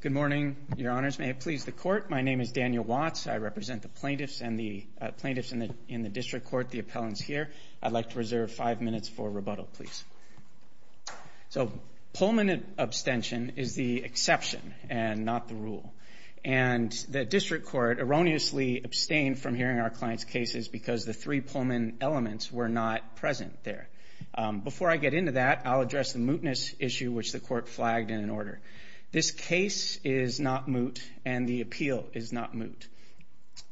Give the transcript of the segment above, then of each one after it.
Good morning, your honors. May it please the court. My name is Daniel Watts. I represent the plaintiffs and the plaintiffs in the district court. The appellant's here. I'd like to reserve five minutes for rebuttal, please. So Pullman abstention is the exception and not the rule. And the district court erroneously abstained from hearing our client's cases because the three Pullman elements were not present there. Before I get into that, I'll reach the court flagged in an order. This case is not moot and the appeal is not moot.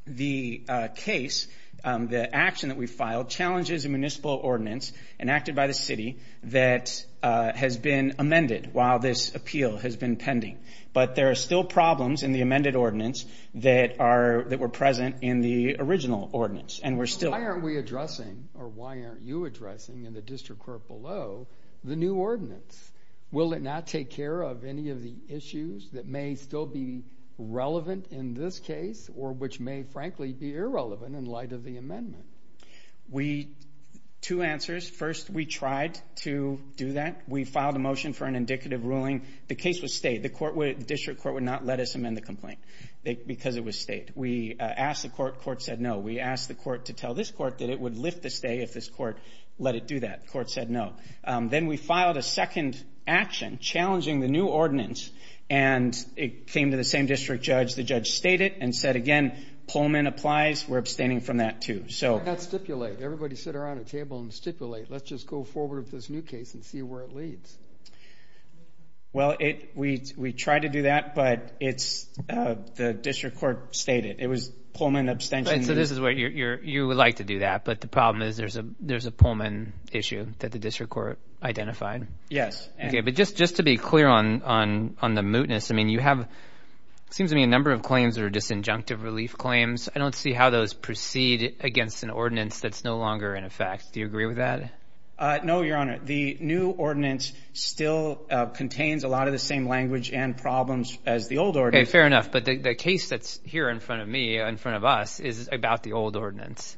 The case, the action that we filed, challenges a municipal ordinance enacted by the city that has been amended while this appeal has been pending. But there are still problems in the amended ordinance that were present in the original ordinance. And we're still Why aren't we addressing, or why aren't you addressing in the district court below, the new ordinance? Will it not take care of any of the issues that may still be relevant in this case or which may, frankly, be irrelevant in light of the amendment? Two answers. First, we tried to do that. We filed a motion for an indicative ruling. The case was stayed. The district court would not let us amend the complaint because it was stayed. We asked the court. Court said no. We asked the court to tell this court that it would lift the stay if this court let it do that. Court said no. Then we filed a second action challenging the new ordinance. And it came to the same district judge. The judge stayed it and said, again, Pullman applies. We're abstaining from that too. Why not stipulate? Everybody sit around a table and stipulate. Let's just go forward with this new case and see where it leads. Well, we tried to do that, but the district court stayed it. It was Pullman abstention. You would like to do that, but the problem is there's a Pullman issue that the district court identified? Yes. Just to be clear on the mootness, it seems to me a number of claims are disinjunctive relief claims. I don't see how those proceed against an ordinance that's no longer in effect. Do you agree with that? No, Your Honor. The new ordinance still contains a lot of the same language and problems as the old ordinance. Fair enough. But the case that's here in front of me, in front of us, is about the old ordinance.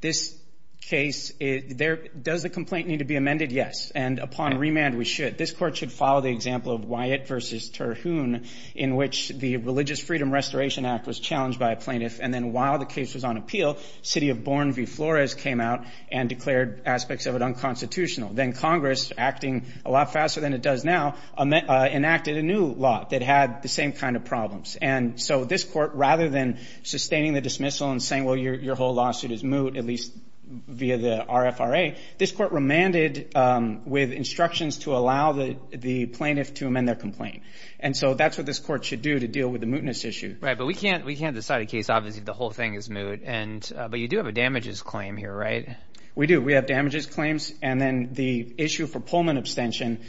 This case, does the complaint need to be amended? Yes. And upon remand, we should. This court should follow the example of Wyatt v. Terhune, in which the Religious Freedom Restoration Act was challenged by a plaintiff. And then while the case was on appeal, city of Bourne v. Flores came out and declared aspects of it unconstitutional. Then Congress, acting a lot faster than it does now, enacted a new law that had the same kind of problems. And so this court, rather than sustaining the dismissal and saying, well, your whole lawsuit is moot, at least via the RFRA, this court remanded with instructions to allow the plaintiff to amend their complaint. And so that's what this court should do to deal with the mootness issue. Right. But we can't decide a case, obviously, if the whole thing is moot. But you do have a damages claim here, right? We do. We have damages claims. And then the issue for Pullman abstention,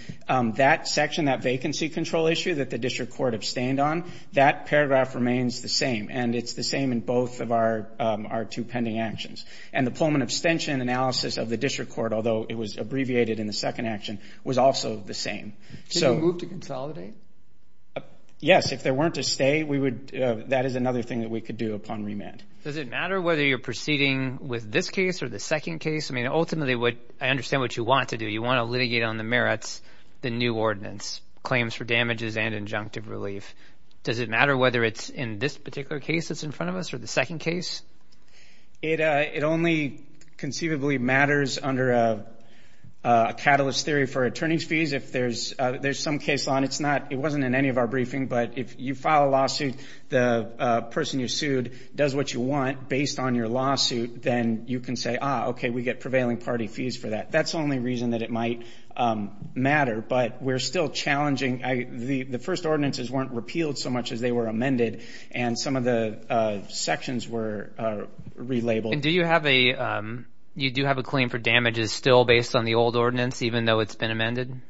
that section, that vacancy control issue that the district court abstained on, that paragraph remains the same. And it's the same in both of our two pending actions. And the Pullman abstention analysis of the district court, although it was abbreviated in the second action, was also the same. Did you move to consolidate? Yes. If there weren't a stay, that is another thing that we could do upon remand. Does it matter whether you're proceeding with this case or the second case? I mean, ultimately, I understand what you want to do. You want to litigate on the merits, the new ordinance, claims for damages and injunctive relief. Does it matter whether it's in this particular case that's in front of us or the second case? It only conceivably matters under a catalyst theory for attorney's fees. If there's some case on it, it wasn't in any of our briefing. But if you file a lawsuit, the person you want based on your lawsuit, then you can say, ah, okay, we get prevailing party fees for that. That's the only reason that it might matter. But we're still challenging. The first ordinances weren't repealed so much as they were amended. And some of the sections were relabeled. And do you have a claim for damages still based on the old ordinance, even though it's been amended?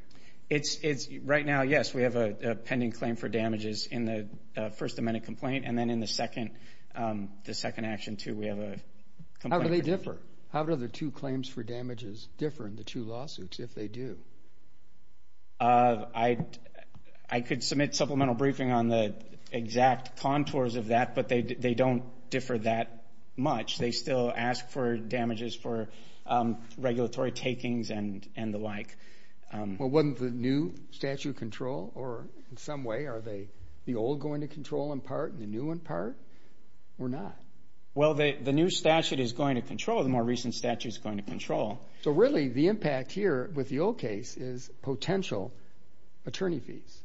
Right now, yes, we have a pending claim for damages in the first amended complaint and then in the second action, too, we have a complaint for damages. How do they differ? How do the two claims for damages differ in the two lawsuits if they do? I could submit supplemental briefing on the exact contours of that, but they don't differ that much. They still ask for damages for regulatory takings and the like. Well, wasn't the new statute of control, or in some way, are the old going to control in part and the new in part? Or not? Well, the new statute is going to control. The more recent statute is going to control. So really, the impact here with the old case is potential attorney fees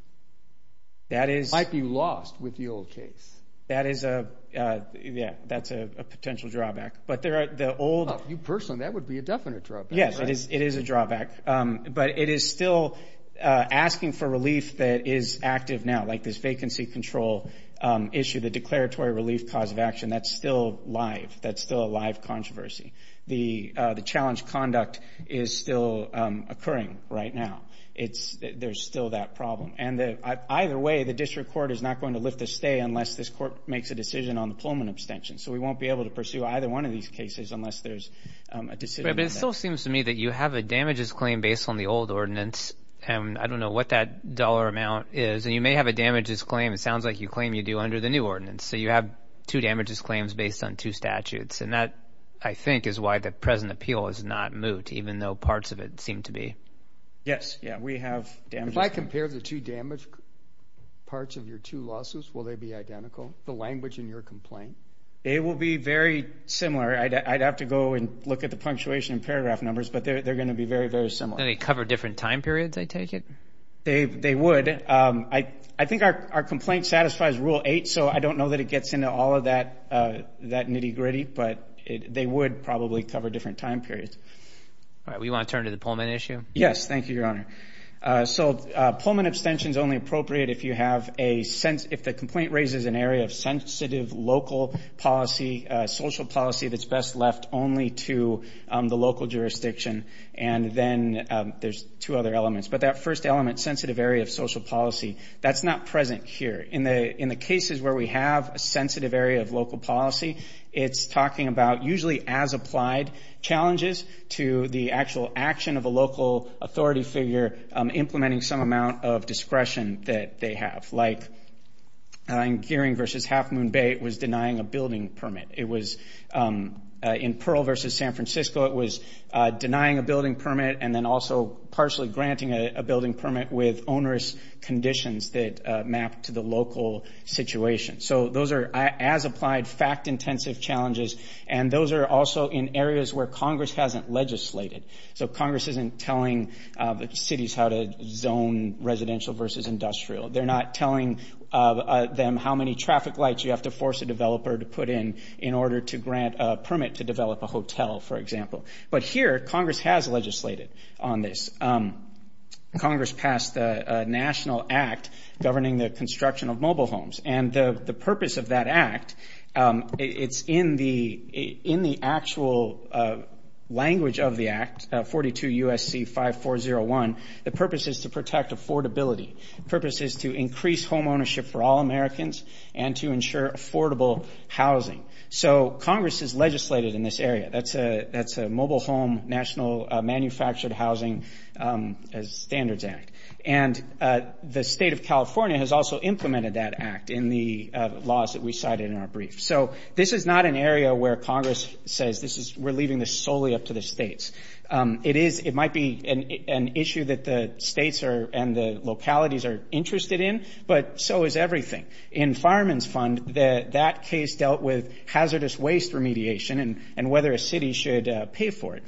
might be lost with the old case. That is a potential drawback. Well, for you personally, that would be a definite drawback, right? Yes, it is a drawback. But it is still asking for relief that is active now, like this vacancy control issue, the declaratory relief cause of action. That is still live. That is still a live controversy. The challenge conduct is still occurring right now. There is still that problem. Either way, the district court is not going to lift a stay unless this court makes a decision on the Pullman abstention. So we won't be able to pursue either one of these cases unless there is a decision on that. But it still seems to me that you have a damages claim based on the old ordinance. I don't know what that dollar amount is. And you may have a damages claim. It sounds like you claim you do under the new ordinance. So you have two damages claims based on two statutes. And that, I think, is why the present appeal is not moot, even though parts of it seem to be. Yes. Yeah, we have damages. If I compare the two damage parts of your two lawsuits, will they be identical? The language in your complaint? It will be very similar. I would have to go and look at the punctuation and paragraph numbers. But they are going to be very, very similar. Do they cover different time periods, I take it? They would. I think our complaint satisfies Rule 8. So I don't know that it gets into all of that nitty-gritty. But they would probably cover different time periods. All right. We want to turn to the Pullman issue? Yes. Thank you, Your Honor. So Pullman abstention is only appropriate if you have a sense, if the complaint raises an area of sensitive local policy, social policy that's best left only to the local jurisdiction. And then there's two other elements. But that first element, sensitive area of social policy, that's not present here. In the cases where we have a sensitive area of local policy, it's talking about usually as applied challenges to the actual action of a local authority figure implementing some amount of discretion that they have. Like in Gearing v. Half Moon Bay, it was denying a building permit. It was in Pearl v. San Francisco, it was denying a building permit and then also partially granting a building permit with onerous conditions that map to the local situation. So those are as applied fact-intensive challenges. And those are also in areas where Congress hasn't legislated. So Congress isn't telling cities how to zone residential versus industrial. They're not telling them how many traffic lights you have to force a developer to put in in order to grant a permit to develop a hotel, for example. But here, Congress has legislated on this. Congress passed a national act governing the construction of mobile homes. And the purpose of that act, it's in the actual language of the act, 42 U.S.C. 5401, the purpose is to protect affordability. The purpose is to increase home ownership for all Americans and to ensure affordable housing. So Congress has legislated in this area. That's a Mobile Home National Manufactured Housing Standards Act. And the state of California has also implemented that act in the laws that we cited in our brief. So this is not an area where Congress says we're leaving this solely up to the states. It might be an issue that the states and the localities are interested in, but so is everything. In Fireman's Fund, that case dealt with hazardous waste remediation and whether a city should pay for it.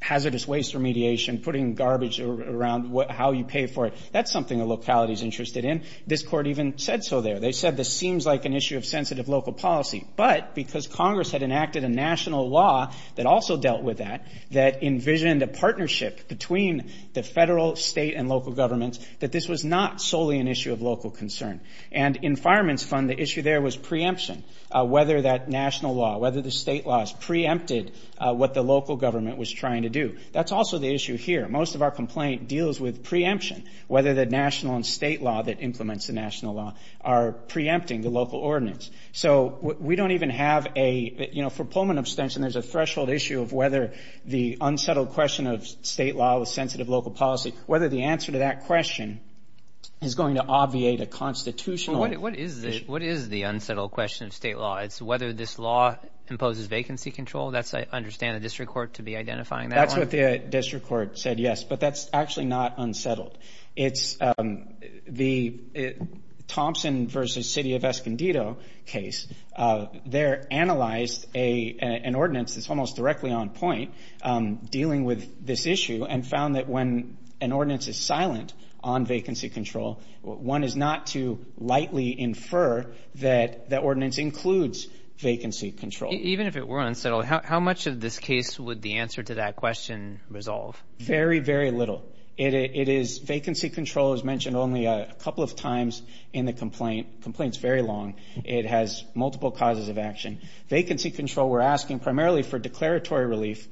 Hazardous waste remediation, putting garbage around how you pay for it, that's something the locality is interested in. This court even said so there. They said this seems like an issue of sensitive local policy. But because Congress had enacted a national law that also dealt with that, that envisioned a partnership between the federal, state, and local governments, that this was not solely an issue of local concern. And in Fireman's Fund, the issue there was preemption, whether that national law, whether the state laws preempted what the local government was trying to do. That's also the issue here. Most of our complaint deals with preemption, whether the national and state law that implements the national law are preempting the local ordinance. So we don't even have a, you know, for Pullman abstention, there's a threshold issue of whether the unsettled question of state law with sensitive local policy, whether the answer to that question is going to obviate a constitutional issue. Well, what is the unsettled question of state law? It's whether this law imposes vacancy control? That's, I understand, the district court to be identifying that one? That's what the district court said, yes. But that's actually not unsettled. It's the Thompson v. City of Escondido case. They analyzed an ordinance that's almost directly on point dealing with this issue and found that when an ordinance is silent on vacancy control, one is not to lightly infer that that ordinance includes vacancy control. Even if it were unsettled, how much of this case would the answer to that question resolve? Very, very little. It is vacancy control, as mentioned only a couple of times in the complaint. Complaint's very long. It has multiple causes of action. Vacancy control, we're asking primarily for declaratory relief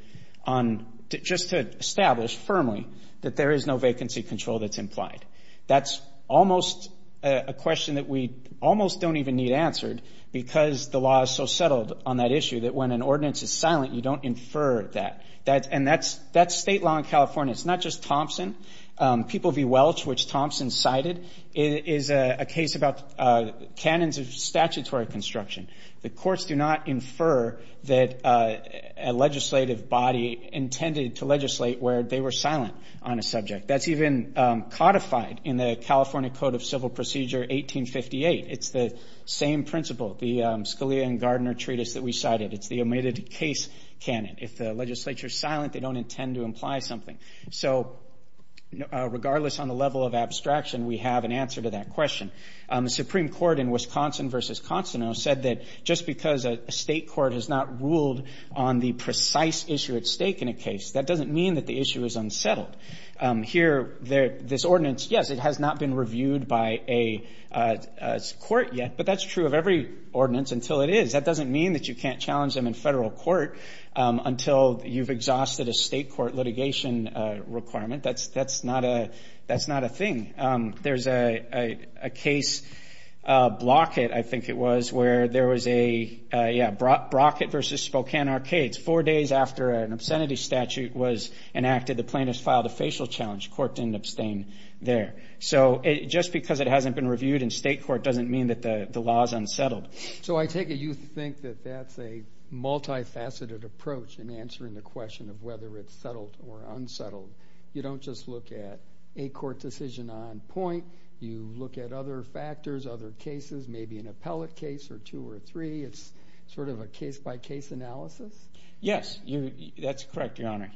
on just to establish firmly that there is no vacancy control that's implied. That's almost a question that we almost don't even need answered because the law is so settled on that issue that when an ordinance is silent, you don't infer that. That's state law in California. It's not just Thompson. People v. Welch, which Thompson cited, is a case about canons of statutory construction. The courts do not infer that a legislative body intended to legislate where they were silent on a subject. That's even codified in the California Code of Civil Procedure, 1858. It's the same principle, the Scalia and Gardner treatise that we cited. It's the omitted case canon. If the legislature is silent, they don't intend to imply something. So regardless on the level of abstraction, we have an answer to that question. The Supreme Court in Wisconsin v. Constano said that just because a state court has not ruled on the precise issue at stake in a case, that doesn't mean that the issue is unsettled. Here, this ordinance, yes, it has not been reviewed by a court yet, but that's true of every ordinance until it is. That doesn't mean that you can't challenge them in federal court until you've exhausted a state court litigation requirement. That's not a thing. There's a case, Brockett, I think it was, where there was a, yeah, Brockett v. Spokane Arcades. Four days after an obscenity statute was enacted, the plaintiffs filed a facial challenge. Court didn't abstain there. So just because it hasn't been reviewed in state court doesn't mean that the law is unsettled. So I take it you think that that's a multi-faceted approach in answering the question of whether it's settled or unsettled. You don't just look at a court decision on point. You look at other factors, other cases, maybe an appellate case or two or three. It's sort of a case by case analysis? Yes, that's correct, Your Honor.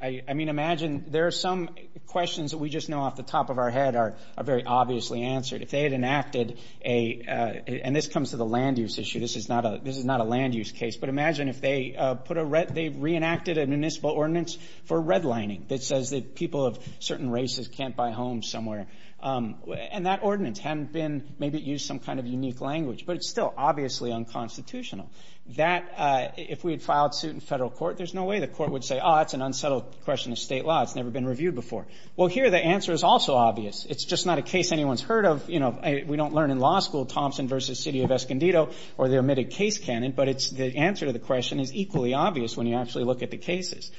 I mean, imagine there are some questions that we just know off the top of our head are very obviously answered. If they had enacted a, and this comes to the land use issue, this is not a land use case, but imagine if they put a, they reenacted a municipal ordinance for redlining that says that people of certain races can't buy homes somewhere. And that ordinance hadn't been, maybe it used some kind of unique language, but it's still obviously unconstitutional. That, if we had filed suit in federal court, there's no way the court would say, oh, it's an unsettled question of state law. It's never been reviewed before. Well, here the answer is also obvious. It's just not a case anyone's heard of. You know, we don't learn in law school Thompson v. City of Escondido or the omitted case canon, but it's, the answer to the question is equally obvious when you actually look at the cases.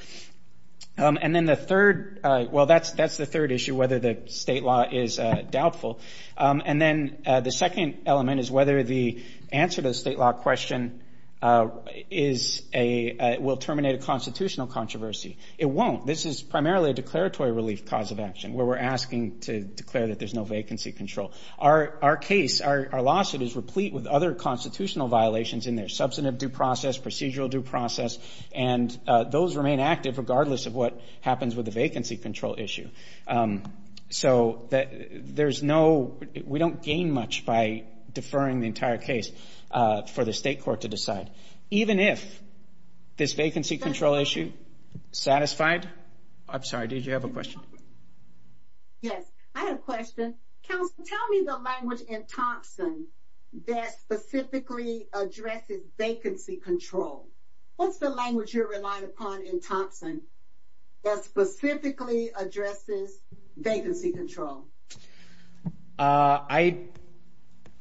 And then the third, well, that's the third issue, whether the state law is doubtful. And then the second element is whether the answer to the state law question is a, will terminate a constitutional controversy. It won't. This is primarily a declaratory relief cause of action where we're asking to declare that there's no vacancy control. Our case, our lawsuit is replete with other constitutional violations in there, substantive due process, procedural due process, and those remain active regardless of what happens with the vacancy control issue. So there's no, we don't gain much by deferring the entire case for the state court to decide. Even if this vacancy control issue, satisfied. I'm sorry, did you have a question? Yes, I had a question. Counsel, tell me the language in Thompson that specifically addresses vacancy control. What's the language you're relying upon in Thompson that specifically addresses vacancy control? I,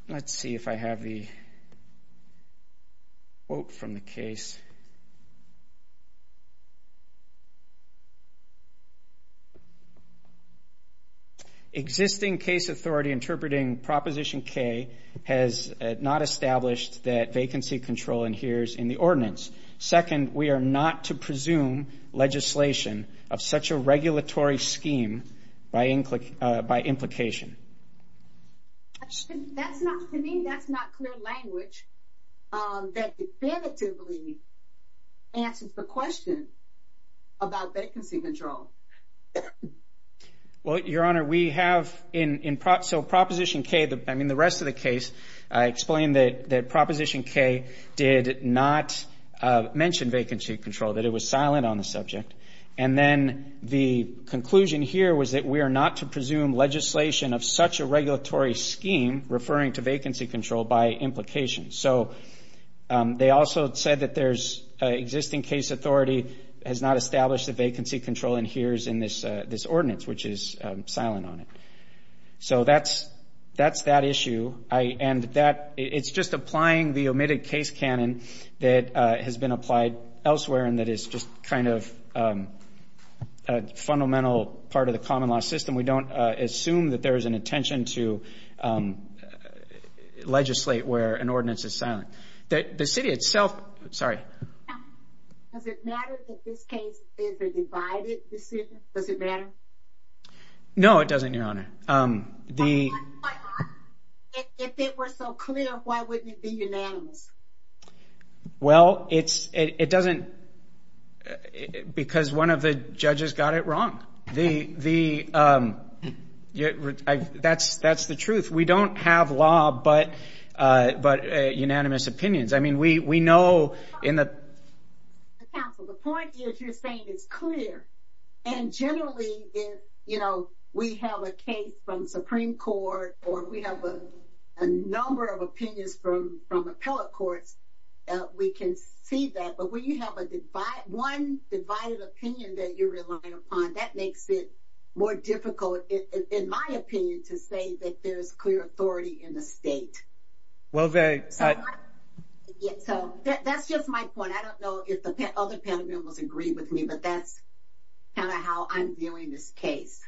let's see if I have the quote from the case. Existing case authority interpreting Proposition K has not established that vacancy control adheres in the ordinance. Second, we are not to presume legislation of such a regulatory scheme by implication. That's not, to me, that's not clear language that definitively answers the question about vacancy control. Well, Your Honor, we have in, in, so Proposition K, I mean the rest of the case, I explained that Proposition K did not mention vacancy control, that it was silent on the subject. And then the conclusion here was that we are not to presume legislation of such a regulatory scheme referring to vacancy control by implication. So they also said that there's an existing case authority has not established that vacancy control adheres in this, this ordinance, which is silent on it. So that's, that's that issue. I, and that, it's just applying the omitted case canon that has been applied elsewhere and that is just kind of a fundamental part of the common law system. We don't assume that there is an intention to legislate where an ordinance is silent. That the city itself, sorry. Does it matter that this case is a divided decision? Does it matter? No, it doesn't, Your Honor. If it were so clear, why wouldn't it be unanimous? Well, it's, it doesn't, because one of the judges got it wrong. That's, that's the truth. We don't have law, but, uh, but unanimous opinions. I mean, we, we know in the counsel, the point is you're saying it's clear and generally, you know, we have a case from Supreme Court or we have a, a number of opinions from, from appellate courts. Uh, we can see that, but when you have a divide, one divided opinion that you're relying upon, that makes it more difficult, in my opinion, to say that there's clear authority in the state. Well, very. So that's just my point. I don't know if the other panel members agree with me, but that's kind of how I'm viewing this case.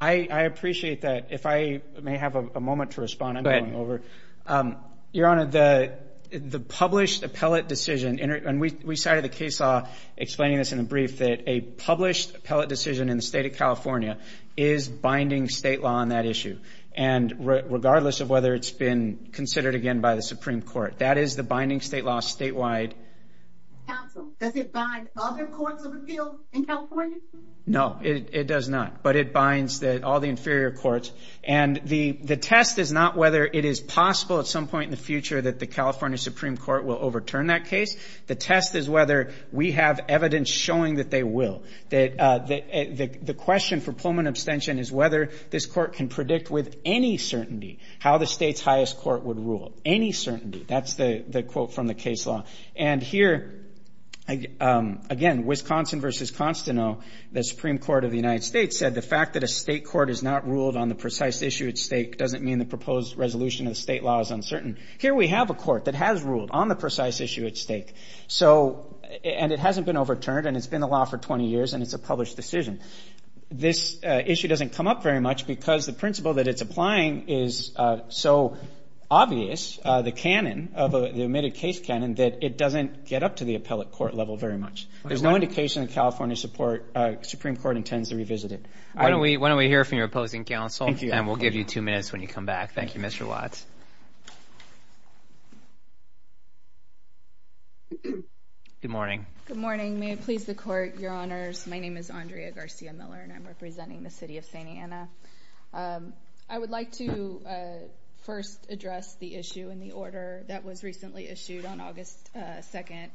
I appreciate that. If I may have a moment to respond, I'm going over. Um, Your Honor, the, the published appellate decision and we cited the case law explaining this in a brief that a published appellate decision in the state of California is binding state law on that issue. And regardless of whether it's been considered again by the Supreme Court, that is the binding state law statewide. Counsel, does it bind all the courts of appeal in California? No, it does not, but it binds the, all the inferior courts. And the, the test is not whether it is possible at some overturn that case. The test is whether we have evidence showing that they will. That, uh, the, the, the question for Pullman abstention is whether this court can predict with any certainty how the state's highest court would rule. Any certainty. That's the, the quote from the case law. And here, um, again, Wisconsin versus Constano, the Supreme Court of the United States said the fact that a state court is not ruled on the precise issue at stake doesn't mean the proposed resolution of the state law is uncertain. Here we have a court that has ruled on the precise issue at stake. So, and it hasn't been overturned and it's been a law for 20 years and it's a published decision. This issue doesn't come up very much because the principle that it's applying is so obvious, uh, the canon of the admitted case canon that it doesn't get up to the appellate court level very much. There's no indication of California support. Uh, Supreme Court intends to revisit it. Why don't we, why don't we hear from your opposing counsel and we'll give you two minutes when you come back. Thank you, Mr. Watts. Good morning. Good morning. May it please the court, your honors. My name is Andrea Garcia Miller and I'm representing the city of Santa Ana. Um, I would like to, uh, first address the issue in the order that was recently issued on August 2nd,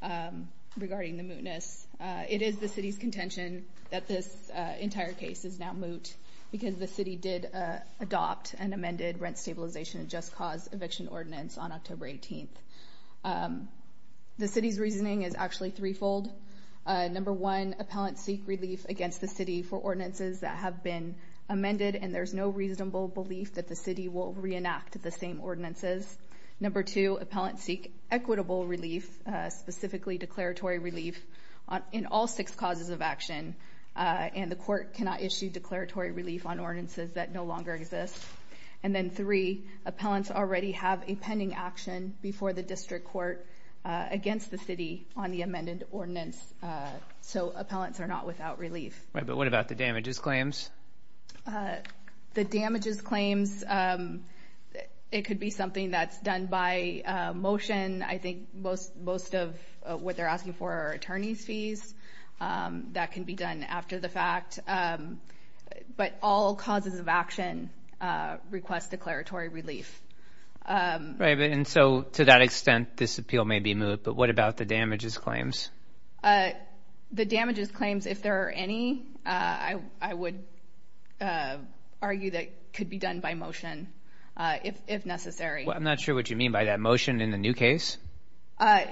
um, regarding the mootness. Uh, it is the city's contention that this, uh, entire case is now moot because the city did, uh, adopt an amended rent stabilization and just cause eviction ordinance on October 18th. Um, the city's reasoning is actually threefold. Uh, number one, appellant seek relief against the city for ordinances that have been amended and there's no reasonable belief that the city will reenact the same ordinances. Number two, appellant seek equitable relief, uh, specifically declaratory relief in all six causes of action. Uh, and the court cannot issue declaratory relief on ordinances that no longer exist. And then three appellants already have a pending action before the district court, uh, against the city on the amended ordinance. Uh, so appellants are not without relief. Right. But what about the damages claims? Uh, the damages claims, um, it could be something that's done by a motion. I think most, most of what they're asking for are attorney's fees. Um, that can be done after the fact. Um, but all causes of action, uh, request declaratory relief. Um, right. And so to that extent, this appeal may be moved. But what about the damages claims? Uh, the damages claims, if there are any, uh, I would, uh, argue that could be done by motion, uh, if, if necessary. I'm not sure what you mean by that motion in the new case. Uh,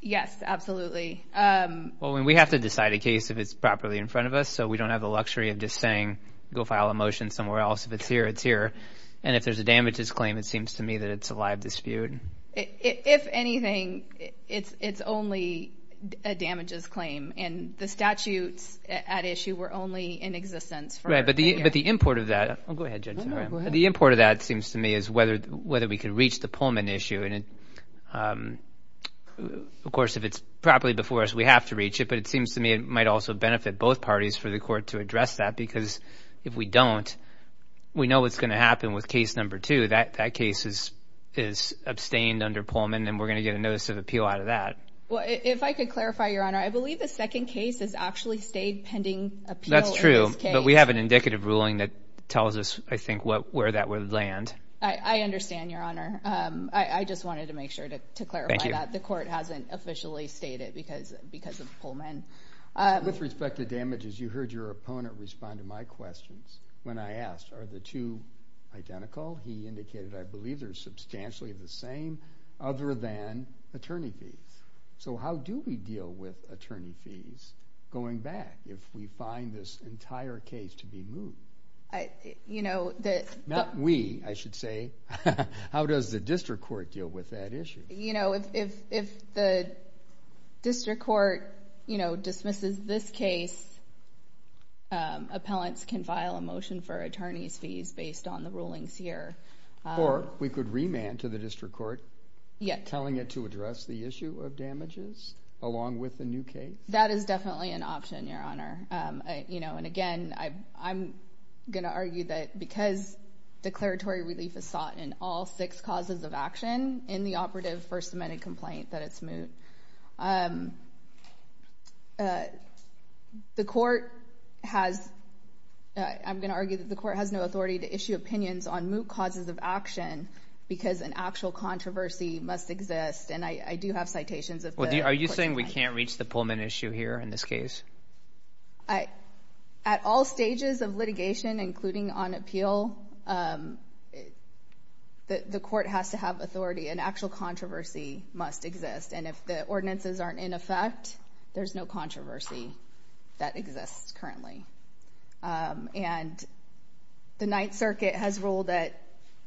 yes, absolutely. Um, well, when we have to decide a case, if it's properly in front of us, so we don't have the luxury of just saying, go file a motion somewhere else. If it's here, it's here. And if there's a damages claim, it seems to me that it's a live dispute. If anything, it's, it's only a damages claim and the statutes at issue were only in existence. Right. But the, but the import of that, I'll go ahead. The import of that seems to me is whether, whether we could reach the Pullman issue and, um, of course, if it's properly before us, we have to reach it, but it seems to me it might also benefit both parties for the court to address that. Because if we don't, we know what's going to happen with case number two, that that case is, is abstained under Pullman. And we're going to get a notice of appeal out of that. Well, if I could clarify your honor, I believe the second case is actually stayed pending appeal. That's true. But we have an indicative ruling that tells us, I don't know where that would land. I understand your honor. Um, I, I just wanted to make sure to, to clarify that the court hasn't officially stated because, because of Pullman. With respect to damages, you heard your opponent respond to my questions when I asked, are the two identical? He indicated, I believe they're substantially the same other than attorney fees. So how do we deal with attorney fees going back? If we find this entire case to be moved? I, you know, that we, I should say, how does the district court deal with that issue? You know, if, if, if the district court, you know, dismisses this case, um, appellants can file a motion for attorney's fees based on the rulings here. Or we could remand to the district court. Yeah. Telling it to address the issue of damages along with the new case. That is definitely an option, your honor. Um, you know, and again, I, I'm going to argue that because declaratory relief is sought in all six causes of action in the operative first amendment complaint, that it's moot. Um, uh, the court has, I'm going to argue that the court has no authority to issue opinions on moot causes of action because an actual controversy must exist. And I, I do have citations. Are you saying we can't reach the Pullman issue here in this case? I, at all stages of litigation, including on appeal, um, the court has to have authority. An actual controversy must exist. And if the ordinances aren't in effect, there's no controversy that exists currently. Um, and the Ninth Circuit has ruled that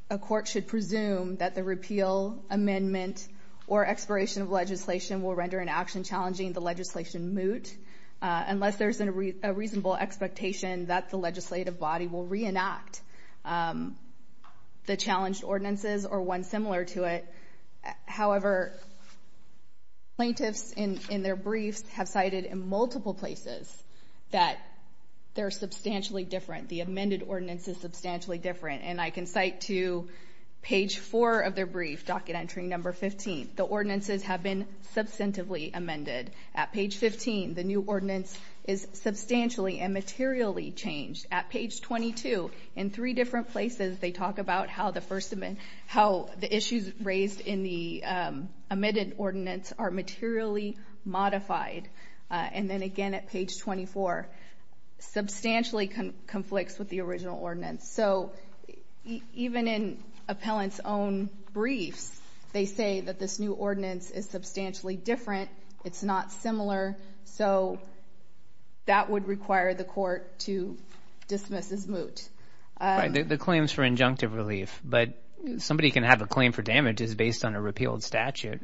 a court should presume that the repeal amendment or expiration of legislation will render an action challenging the legislation moot, uh, unless there's a reasonable expectation that the legislative body will reenact, um, the challenged ordinances or one similar to it. However, plaintiffs in, in their briefs have cited in multiple places that they're substantially different. The amended ordinance is substantially different. And I can cite to page four of their brief, docket entry number 15. The ordinances have been substantively amended. At page 15, the new ordinance is substantially and materially changed. At page 22, in three different places, they talk about how the first amendment, how the issues raised in the, um, omitted ordinance are materially modified. Uh, and then again at page 24, substantially with the original ordinance. So even in appellant's own briefs, they say that this new ordinance is substantially different. It's not similar. So that would require the court to dismiss as moot. Um, the claims for injunctive relief, but somebody can have a claim for damages based on a repealed statute.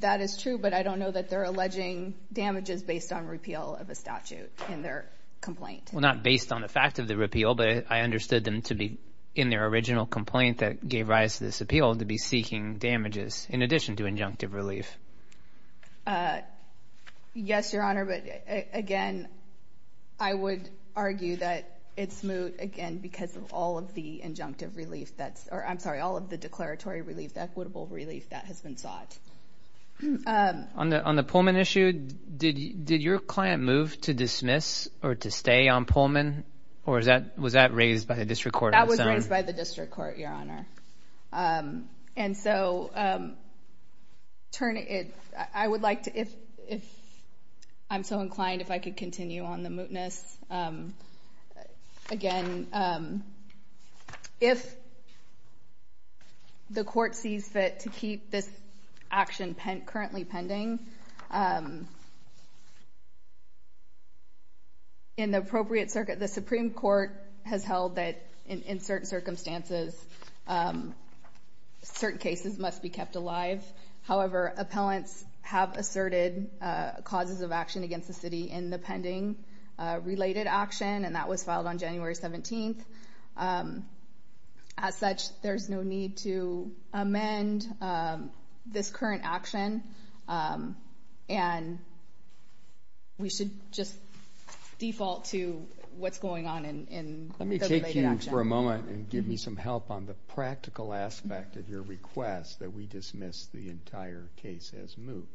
That is true, but I don't know that they're alleging damages based on repeal of a statute in their complaint. Well, not based on the fact of the repeal, but I understood them to be in their original complaint that gave rise to this appeal to be seeking damages in addition to injunctive relief. Uh, yes, your honor. But again, I would argue that it's moot again because of all of the injunctive relief that's, or I'm sorry, all of the declaratory relief, equitable relief that has been sought. Um, on the, on did your client move to dismiss or to stay on Pullman or is that, was that raised by the district court? That was raised by the district court, your honor. Um, and so, um, turn it, I would like to, if, if I'm so inclined, if I could continue on the mootness, um, again, um, if the court sees fit to keep this action pen currently pending, um, in the appropriate circuit, the Supreme court has held that in certain circumstances, um, certain cases must be kept alive. However, appellants have asserted, uh, causes of action against the city in the 17th. Um, as such, there's no need to amend, um, this current action. Um, and we should just default to what's going on in the related action. Let me take you for a moment and give me some help on the practical aspect of your request that we dismiss the entire case as moot.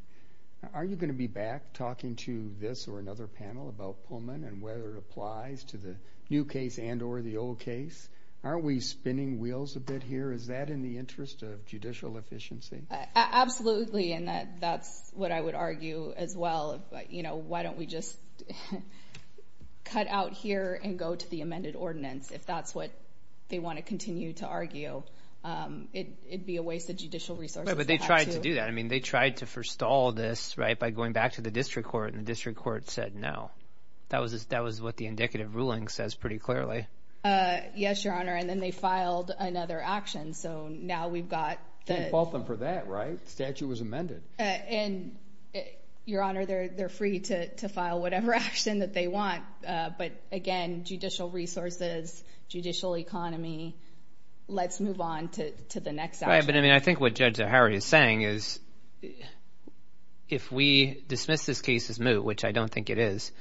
Now, are you going to be back talking to this or another panel about Pullman and whether it applies to the new case and or the old case? Aren't we spinning wheels a bit here? Is that in the interest of judicial efficiency? Absolutely. And that, that's what I would argue as well. You know, why don't we just cut out here and go to the amended ordinance if that's what they want to continue to argue? Um, it, it'd be a waste of judicial resources, but they tried to do that. I mean, they tried to forestall this right by going back to the district court and the district court said, no, that was, that was what the indicative ruling says pretty clearly. Uh, yes, your honor. And then they filed another action. So now we've got both of them for that, right? Statute was amended. Uh, and your honor, they're, they're free to, to file whatever action that they want. Uh, but again, judicial resources, judicial economy, let's move on to, to the next. I mean, I think what is new, which I don't think it is.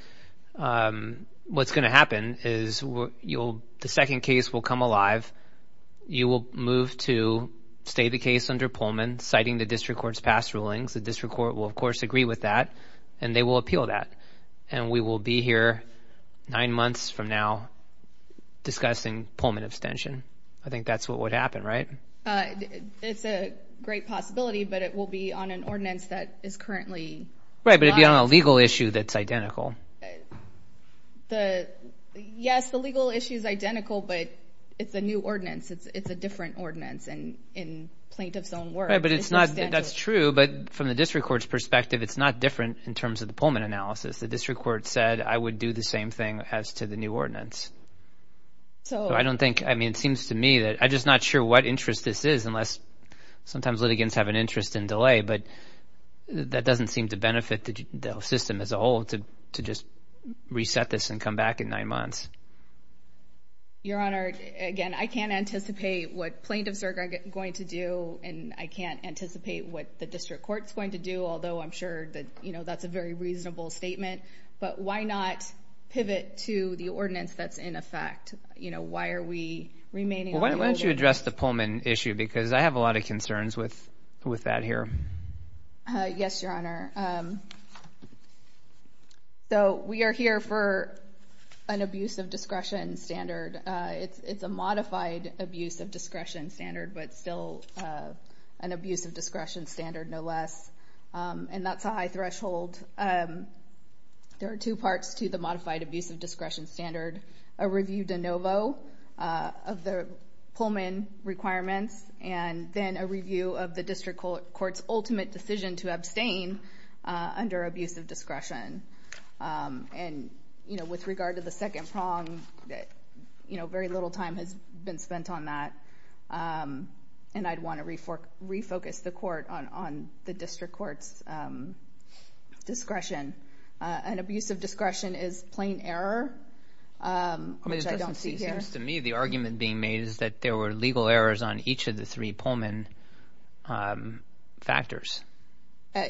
Um, what's going to happen is you'll, the second case will come alive. You will move to stay the case under Pullman citing the district court's past rulings. The district court will of course agree with that and they will appeal that. And we will be here nine months from now discussing Pullman abstention. I think that's what would happen, right? Uh, it's a great possibility, but it will be on an ordinance that is currently right. But it'd be on a legal issue that's identical. The, yes, the legal issue is identical, but it's a new ordinance. It's, it's a different ordinance and in plaintiff's own word. Right. But it's not, that's true. But from the district court's perspective, it's not different in terms of the Pullman analysis. The district court said I would do the same thing as to the new ordinance. So I don't think, I mean, it seems to me that I just not sure what interest this is unless sometimes litigants have an interest in delay, but that doesn't seem to benefit the system as a whole to, to just reset this and come back in nine months. Your Honor, again, I can't anticipate what plaintiffs are going to do and I can't anticipate what the district court's going to do. Although I'm sure that, you know, that's a very reasonable statement, but why not pivot to the ordinance that's in effect? You know, why are we remaining? Why don't you address the Pullman issue? Because I have a lot of concerns with, with that here. Yes, Your Honor. So we are here for an abuse of discretion standard. It's, it's a modified abuse of discretion standard, but still an abuse of discretion standard no less. And that's a high threshold. There are two parts to the modified abuse of discretion standard, a review de novo of the Pullman requirements, and then a review of the district court's ultimate decision to abstain under abuse of discretion. And, you know, with regard to the second prong, you know, very little time has been spent on that. And I'd want to refor, refocus the court on, on the district court's discretion. An abuse of discretion is plain error, which I don't see here. It seems to me the argument being made is that there were legal errors on each of the three Pullman factors.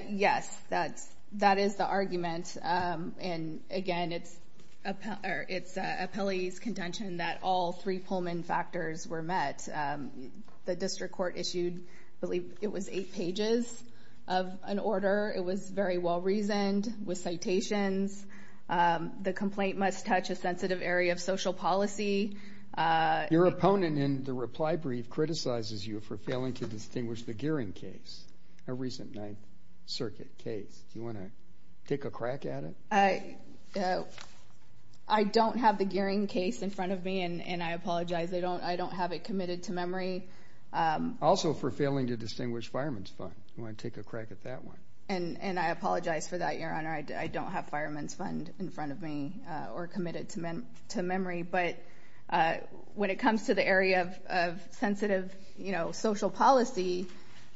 Yes, that's, that is the argument. And again, it's a, it's a Pelley's contention that all three Pullman factors were met. The district court issued, I believe it was eight pages of an order. It was very well reasoned with citations. The complaint must touch a sensitive area of social policy. Your opponent in the reply brief criticizes you for failing to distinguish the Gearing case, a recent Ninth Circuit case. Do you want to take a crack at it? I don't have the Gearing case in front of me, and I apologize. I don't, I don't have it committed to memory. Also for failing to distinguish Fireman's Fund. Do you want to take a crack at that one? And I apologize for that, Your Honor. I don't have Fireman's Fund in front of me or when it comes to the area of sensitive, you know, social policy,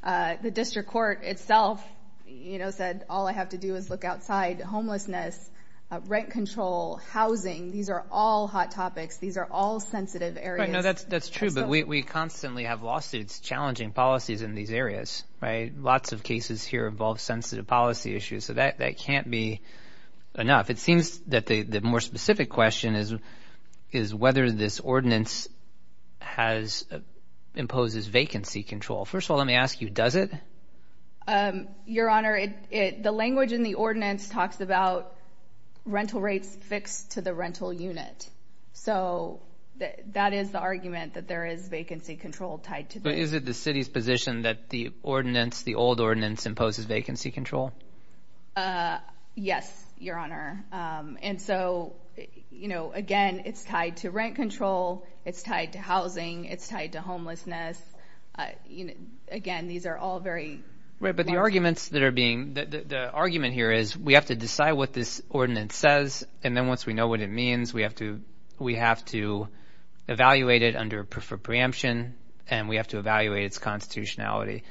the district court itself, you know, said, all I have to do is look outside. Homelessness, rent control, housing, these are all hot topics. These are all sensitive areas. I know that's, that's true. But we constantly have lawsuits challenging policies in these areas, right? Lots of cases here involve sensitive policy issues. So that this ordinance has, imposes vacancy control. First of all, let me ask you, does it? Your Honor, the language in the ordinance talks about rental rates fixed to the rental unit. So that is the argument that there is vacancy control tied to this. But is it the city's position that the ordinance, the old ordinance, imposes vacancy control? Uh, yes, Your Honor. Um, and so, you know, again, it's tied to rent control. It's tied to housing. It's tied to homelessness. Uh, you know, again, these are all very right. But the arguments that are being, the argument here is we have to decide what this ordinance says. And then once we know what it means, we have to, we have to evaluate it under preemption and we have to evaluate its constitutionality.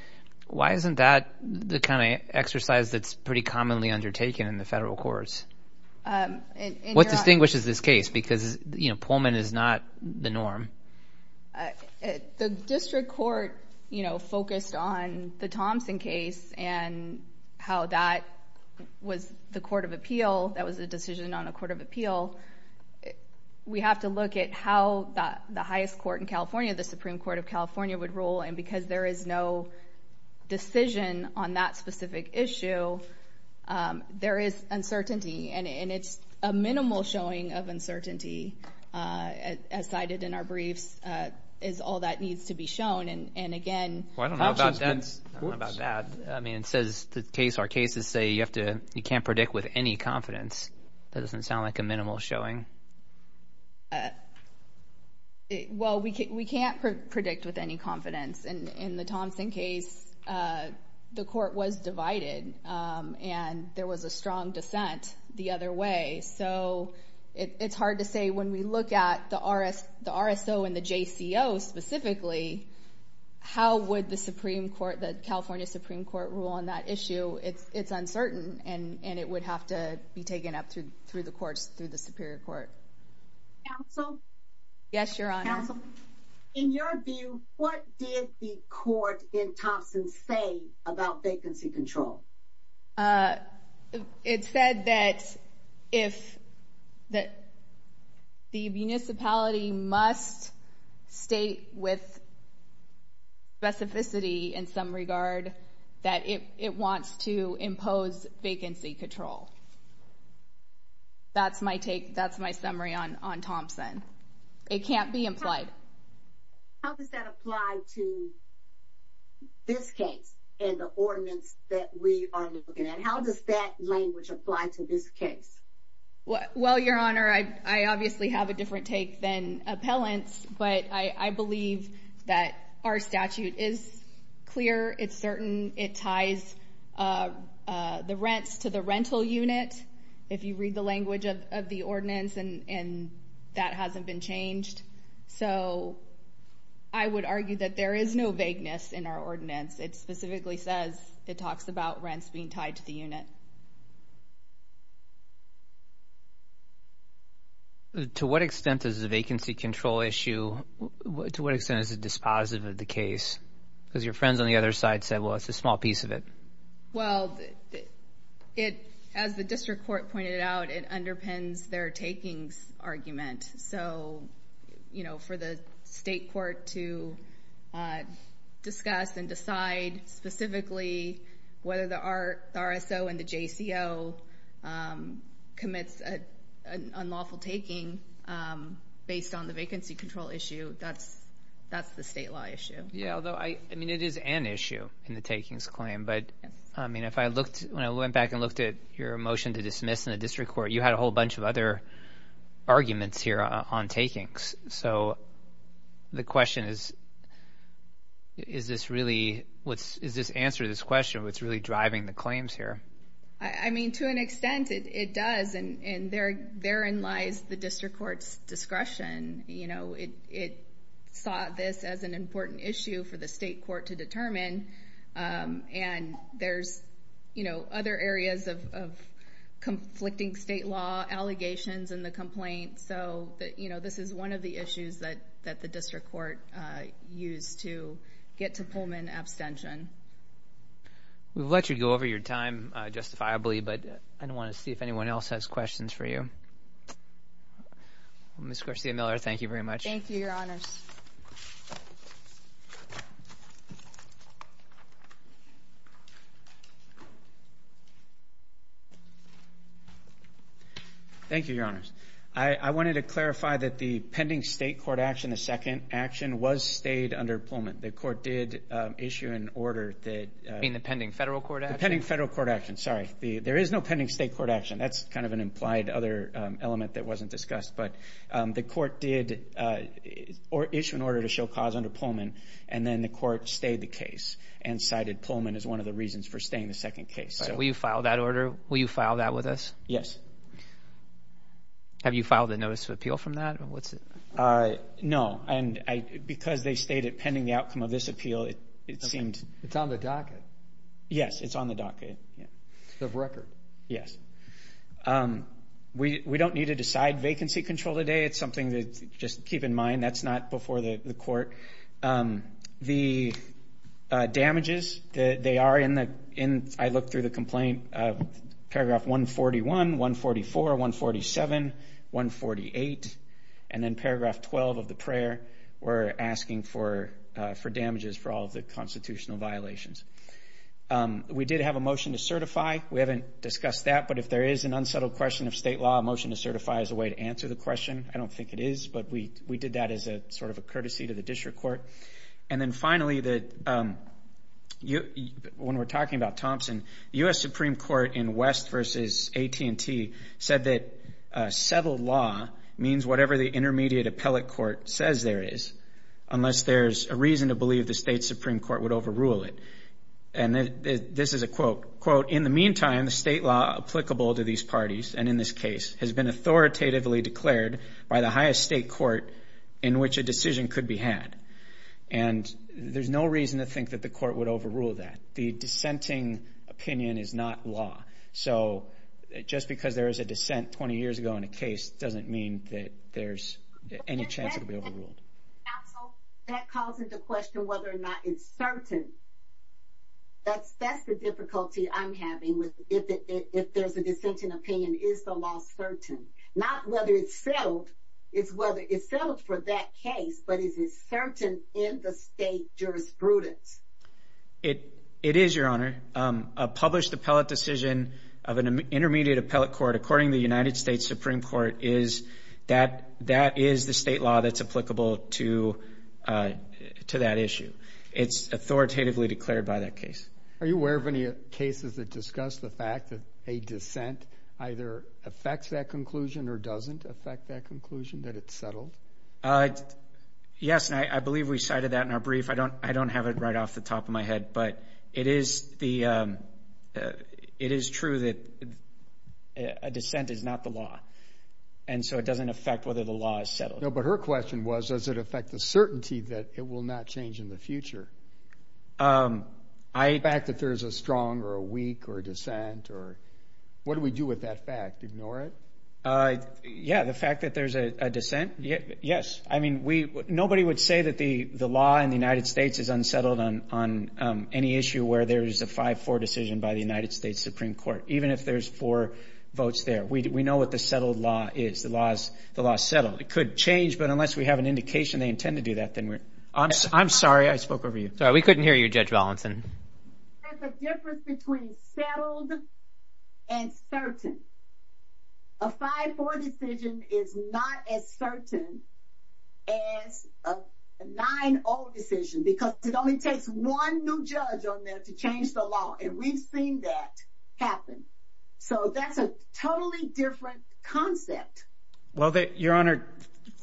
Why isn't that the kind of exercise that's pretty commonly undertaken in the federal courts? What distinguishes this case? Because, you know, Pullman is not the norm. The district court, you know, focused on the Thompson case and how that was the court of appeal. That was a decision on a court of appeal. We have to look at how the highest court in California, the Supreme Court of California, would rule. And because there is no decision on that specific issue, there is uncertainty. And it's a minimal showing of uncertainty, as cited in our briefs, is all that needs to be shown. And again, I don't know about that. I mean, it says the case, our cases say you have to, you can't predict with any confidence. That doesn't sound like a minimal showing. Well, we can't predict with any confidence. In the Thompson case, the court was divided and there was a strong dissent the other way. So it's hard to say when we look at the RSO and the JCO specifically, how would the Supreme Court, the California Supreme Court, rule on that issue? It's uncertain and it would have to be taken up through the courts, through the Superior Court. Counsel? Yes, Your Honor. Counsel, in your view, what did the court in Thompson say about vacancy control? It said that if that the municipality must state with specificity in some vacancy control. That's my take. That's my summary on Thompson. It can't be implied. How does that apply to this case and the ordinance that we are looking at? How does that language apply to this case? Well, Your Honor, I obviously have a different take than appellants, but I am a rental unit. If you read the language of the ordinance, that hasn't been changed. So I would argue that there is no vagueness in our ordinance. It specifically says, it talks about rents being tied to the unit. To what extent is the vacancy control issue, to what extent is it dispositive of the case? Because your friends on the other side said, well, it's a small piece of it. Well, as the district court pointed out, it underpins their takings argument. So, you know, for the state court to discuss and decide specifically whether the RSO and the JCO commits an unlawful taking based on the vacancy control issue, that's the state law issue. Yeah, although, I mean, it is an issue in the takings claim. But I mean, if I looked, when I went back and looked at your motion to dismiss in the district court, you had a whole bunch of other arguments here on takings. So the question is, is this really, is this answer to this question what's really driving the claims here? I mean, to an extent it does. And therein lies the district court's view that it sought this as an important issue for the state court to determine. And there's, you know, other areas of conflicting state law allegations in the complaint. So, you know, this is one of the issues that the district court used to get to Pullman abstention. We've let you go over your time justifiably, but I want to see if anyone else has questions for you. Ms. Garcia-Miller, thank you very much. Thank you, Your Honors. Thank you, Your Honors. I wanted to clarify that the pending state court action, the second action, was stayed under Pullman. The court did issue an order that... You mean the pending federal court action? The pending federal court action, sorry. There is no pending state court action. That's kind of an implied other element that wasn't discussed. But the court did issue an order to show cause under Pullman, and then the court stayed the case and cited Pullman as one of the reasons for staying the second case. So will you file that order? Will you file that with us? Yes. Have you filed a notice of appeal from that? No. And because they stayed it pending the outcome of this appeal, it seemed... It's on the docket. Yes, it's on the docket. Of record? Yes. We don't need to decide vacancy control today. It's something to just keep in mind. That's not before the court. The damages, they are in the... I looked through the complaint, paragraph 141, 144, 147, 148, and then paragraph 12 of the prayer, we're asking for damages for all of the constitutional violations. We did have a motion to certify. We haven't discussed that, but if there is an unsettled question of state law, a motion to certify is a way to answer the question. I don't think it is, but we did that as a sort of a courtesy to the district court. And then finally, when we're talking about Thompson, US Supreme Court in West versus AT&T said that settled law means whatever the intermediate appellate court says there is, unless there's a reason to believe the state Supreme Court would overrule it. And this is a quote, quote, in the meantime, the state law applicable to these parties, and in this case, has been authoritatively declared by the highest state court in which a decision could be had. And there's no reason to think that the court would overrule that. The dissenting opinion is not law. So just because there was a dissent 20 years ago in a case doesn't mean that there's any chance it'll be overruled. That calls into question whether or not it's certain. That's that's the difficulty I'm having with it. If there's a dissenting opinion, is the law certain? Not whether it's settled. It's whether it's settled for that case. But is it certain in the state jurisprudence? It it is, Your Honor. A published appellate decision of an intermediate appellate court, according the United States Supreme Court, is that that is the state law that's applicable to, uh, to that issue. It's authoritatively declared by that case. Are you aware of any cases that discuss the fact that a dissent either affects that conclusion or doesn't affect that conclusion that it's settled? Uh, yes. And I believe we cited that in our brief. I don't I don't have it right off the top of my head. But it is the, uh, it is true that a dissent is not the law. And so it doesn't affect whether the law is no. But her question was, does it affect the certainty that it will not change in the future? Um, I fact that there's a strong or a weak or dissent or what do we do with that fact? Ignore it. Uh, yeah. The fact that there's a dissent? Yes. I mean, we nobody would say that the law in the United States is unsettled on on any issue where there is a 54 decision by the United States Supreme Court. Even if there's four votes there, we know what the settled law is. The laws the law settled. It could change. But unless we have an indication they intend to do that, then we're I'm sorry. I spoke over you. Sorry. We couldn't hear you, Judge Valenson. There's a difference between settled and certain. A 54 decision is not as certain as a nine old decision because it only takes one new judge on there to change the law. And we've seen that happen. So that's a totally different concept. Well, that your honor.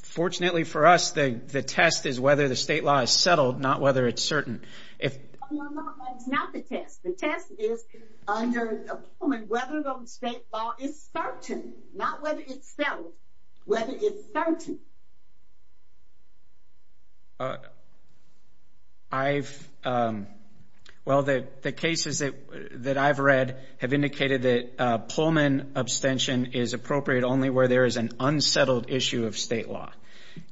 Fortunately for us, the test is whether the state law is settled, not whether it's certain. If it's not the test, the test is under whether the state law is certain, not whether it's settled, whether it's certain. Uh, I've, um, well, the cases that that I've read have indicated that Pullman abstention is appropriate only where there is an unsettled issue of state law,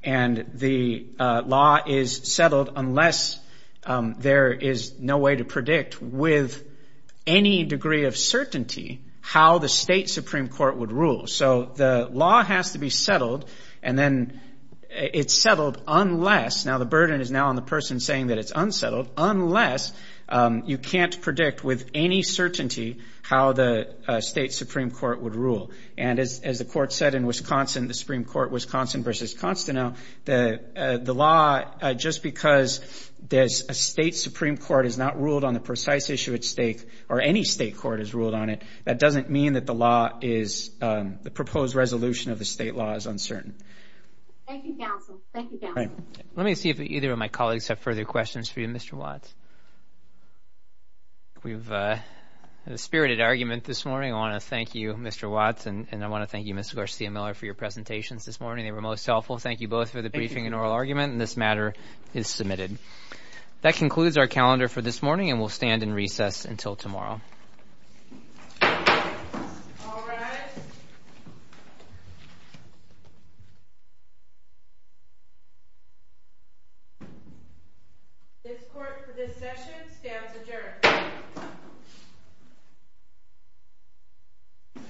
and the law is settled unless there is no way to predict with any degree of certainty how the state Supreme Court would rule. So the law has to be on the person saying that it's unsettled unless you can't predict with any certainty how the state Supreme Court would rule. And as the court said in Wisconsin, the Supreme Court, Wisconsin versus Constantine, the law just because there's a state Supreme Court is not ruled on the precise issue at stake or any state court has ruled on it. That doesn't mean that the law is the proposed resolution of the state law is uncertain. Thank you. Thank you. Let me see if either of my colleagues have further questions for you, Mr. Watts. We've, uh, the spirited argument this morning. I want to thank you, Mr Watts, and I want to thank you, Mr Garcia Miller for your presentations this morning. They were most helpful. Thank you both for the briefing and oral argument in this matter is submitted. That concludes our calendar for this morning, and we'll stand in recess until tomorrow. Mhm. This court for this session stands adjourned.